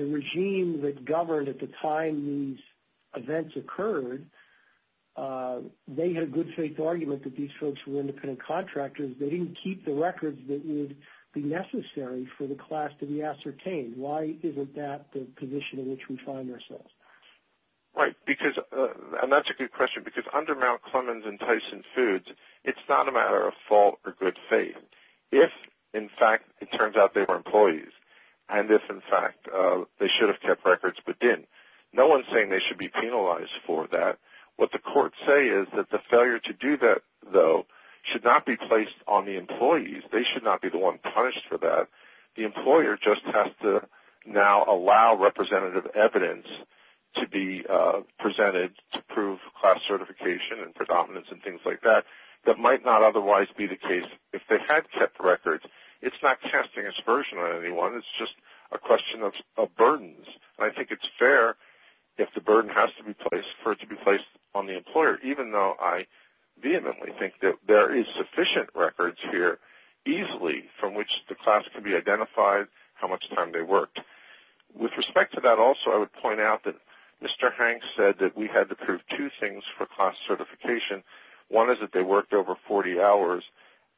regime that governed at the time these events occurred, they had a good faith argument that these folks were independent contractors. They didn't keep the records that would be necessary for the class to be ascertained. Why isn't that the position in which we find ourselves? Right, and that's a good question. Because under Mount Clemens and Tyson Foods, it's not a matter of fault or good faith. If, in fact, it turns out they were employees, and if, in fact, they should have kept records but didn't, no one is saying they should be penalized for that. What the courts say is that the failure to do that, though, should not be placed on the employees. They should not be the one punished for that. The employer just has to now allow representative evidence to be presented to prove class certification and predominance and things like that that might not otherwise be the case. If they had kept records, it's not casting aspersion on anyone. It's just a question of burdens. I think it's fair if the burden has to be placed for it to be placed on the employer, even though I vehemently think that there is sufficient records here, easily, from which the class can be identified how much time they worked. With respect to that also, I would point out that Mr. Hanks said that we had to prove two things for class certification. One is that they worked over 40 hours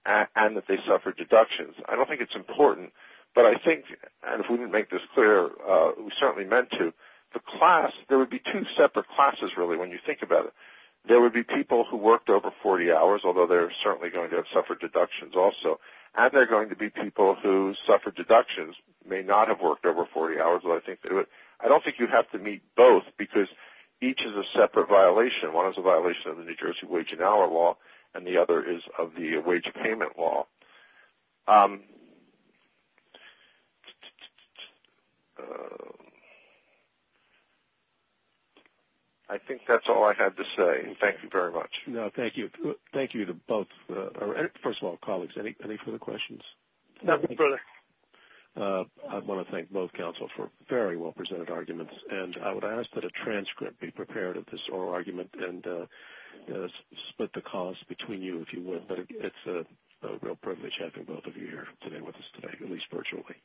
and that they suffered deductions. I don't think it's important. If we didn't make this clear, we certainly meant to. There would be two separate classes, really, when you think about it. There would be people who worked over 40 hours, although they're certainly going to have suffered deductions also, and there are going to be people who suffered deductions, may not have worked over 40 hours. I don't think you'd have to meet both because each is a separate violation. One is a violation of the New Jersey Wage and Hour Law, and the other is of the Wage Payment Law. I think that's all I had to say. Thank you very much. No, thank you. Thank you to both. First of all, colleagues, any further questions? Not any further. I want to thank both counsels for very well-presented arguments, and I would ask that a transcript be prepared of this oral argument and split the cost between you, if you would. It's a real privilege having both of you here today with us today, at least virtually.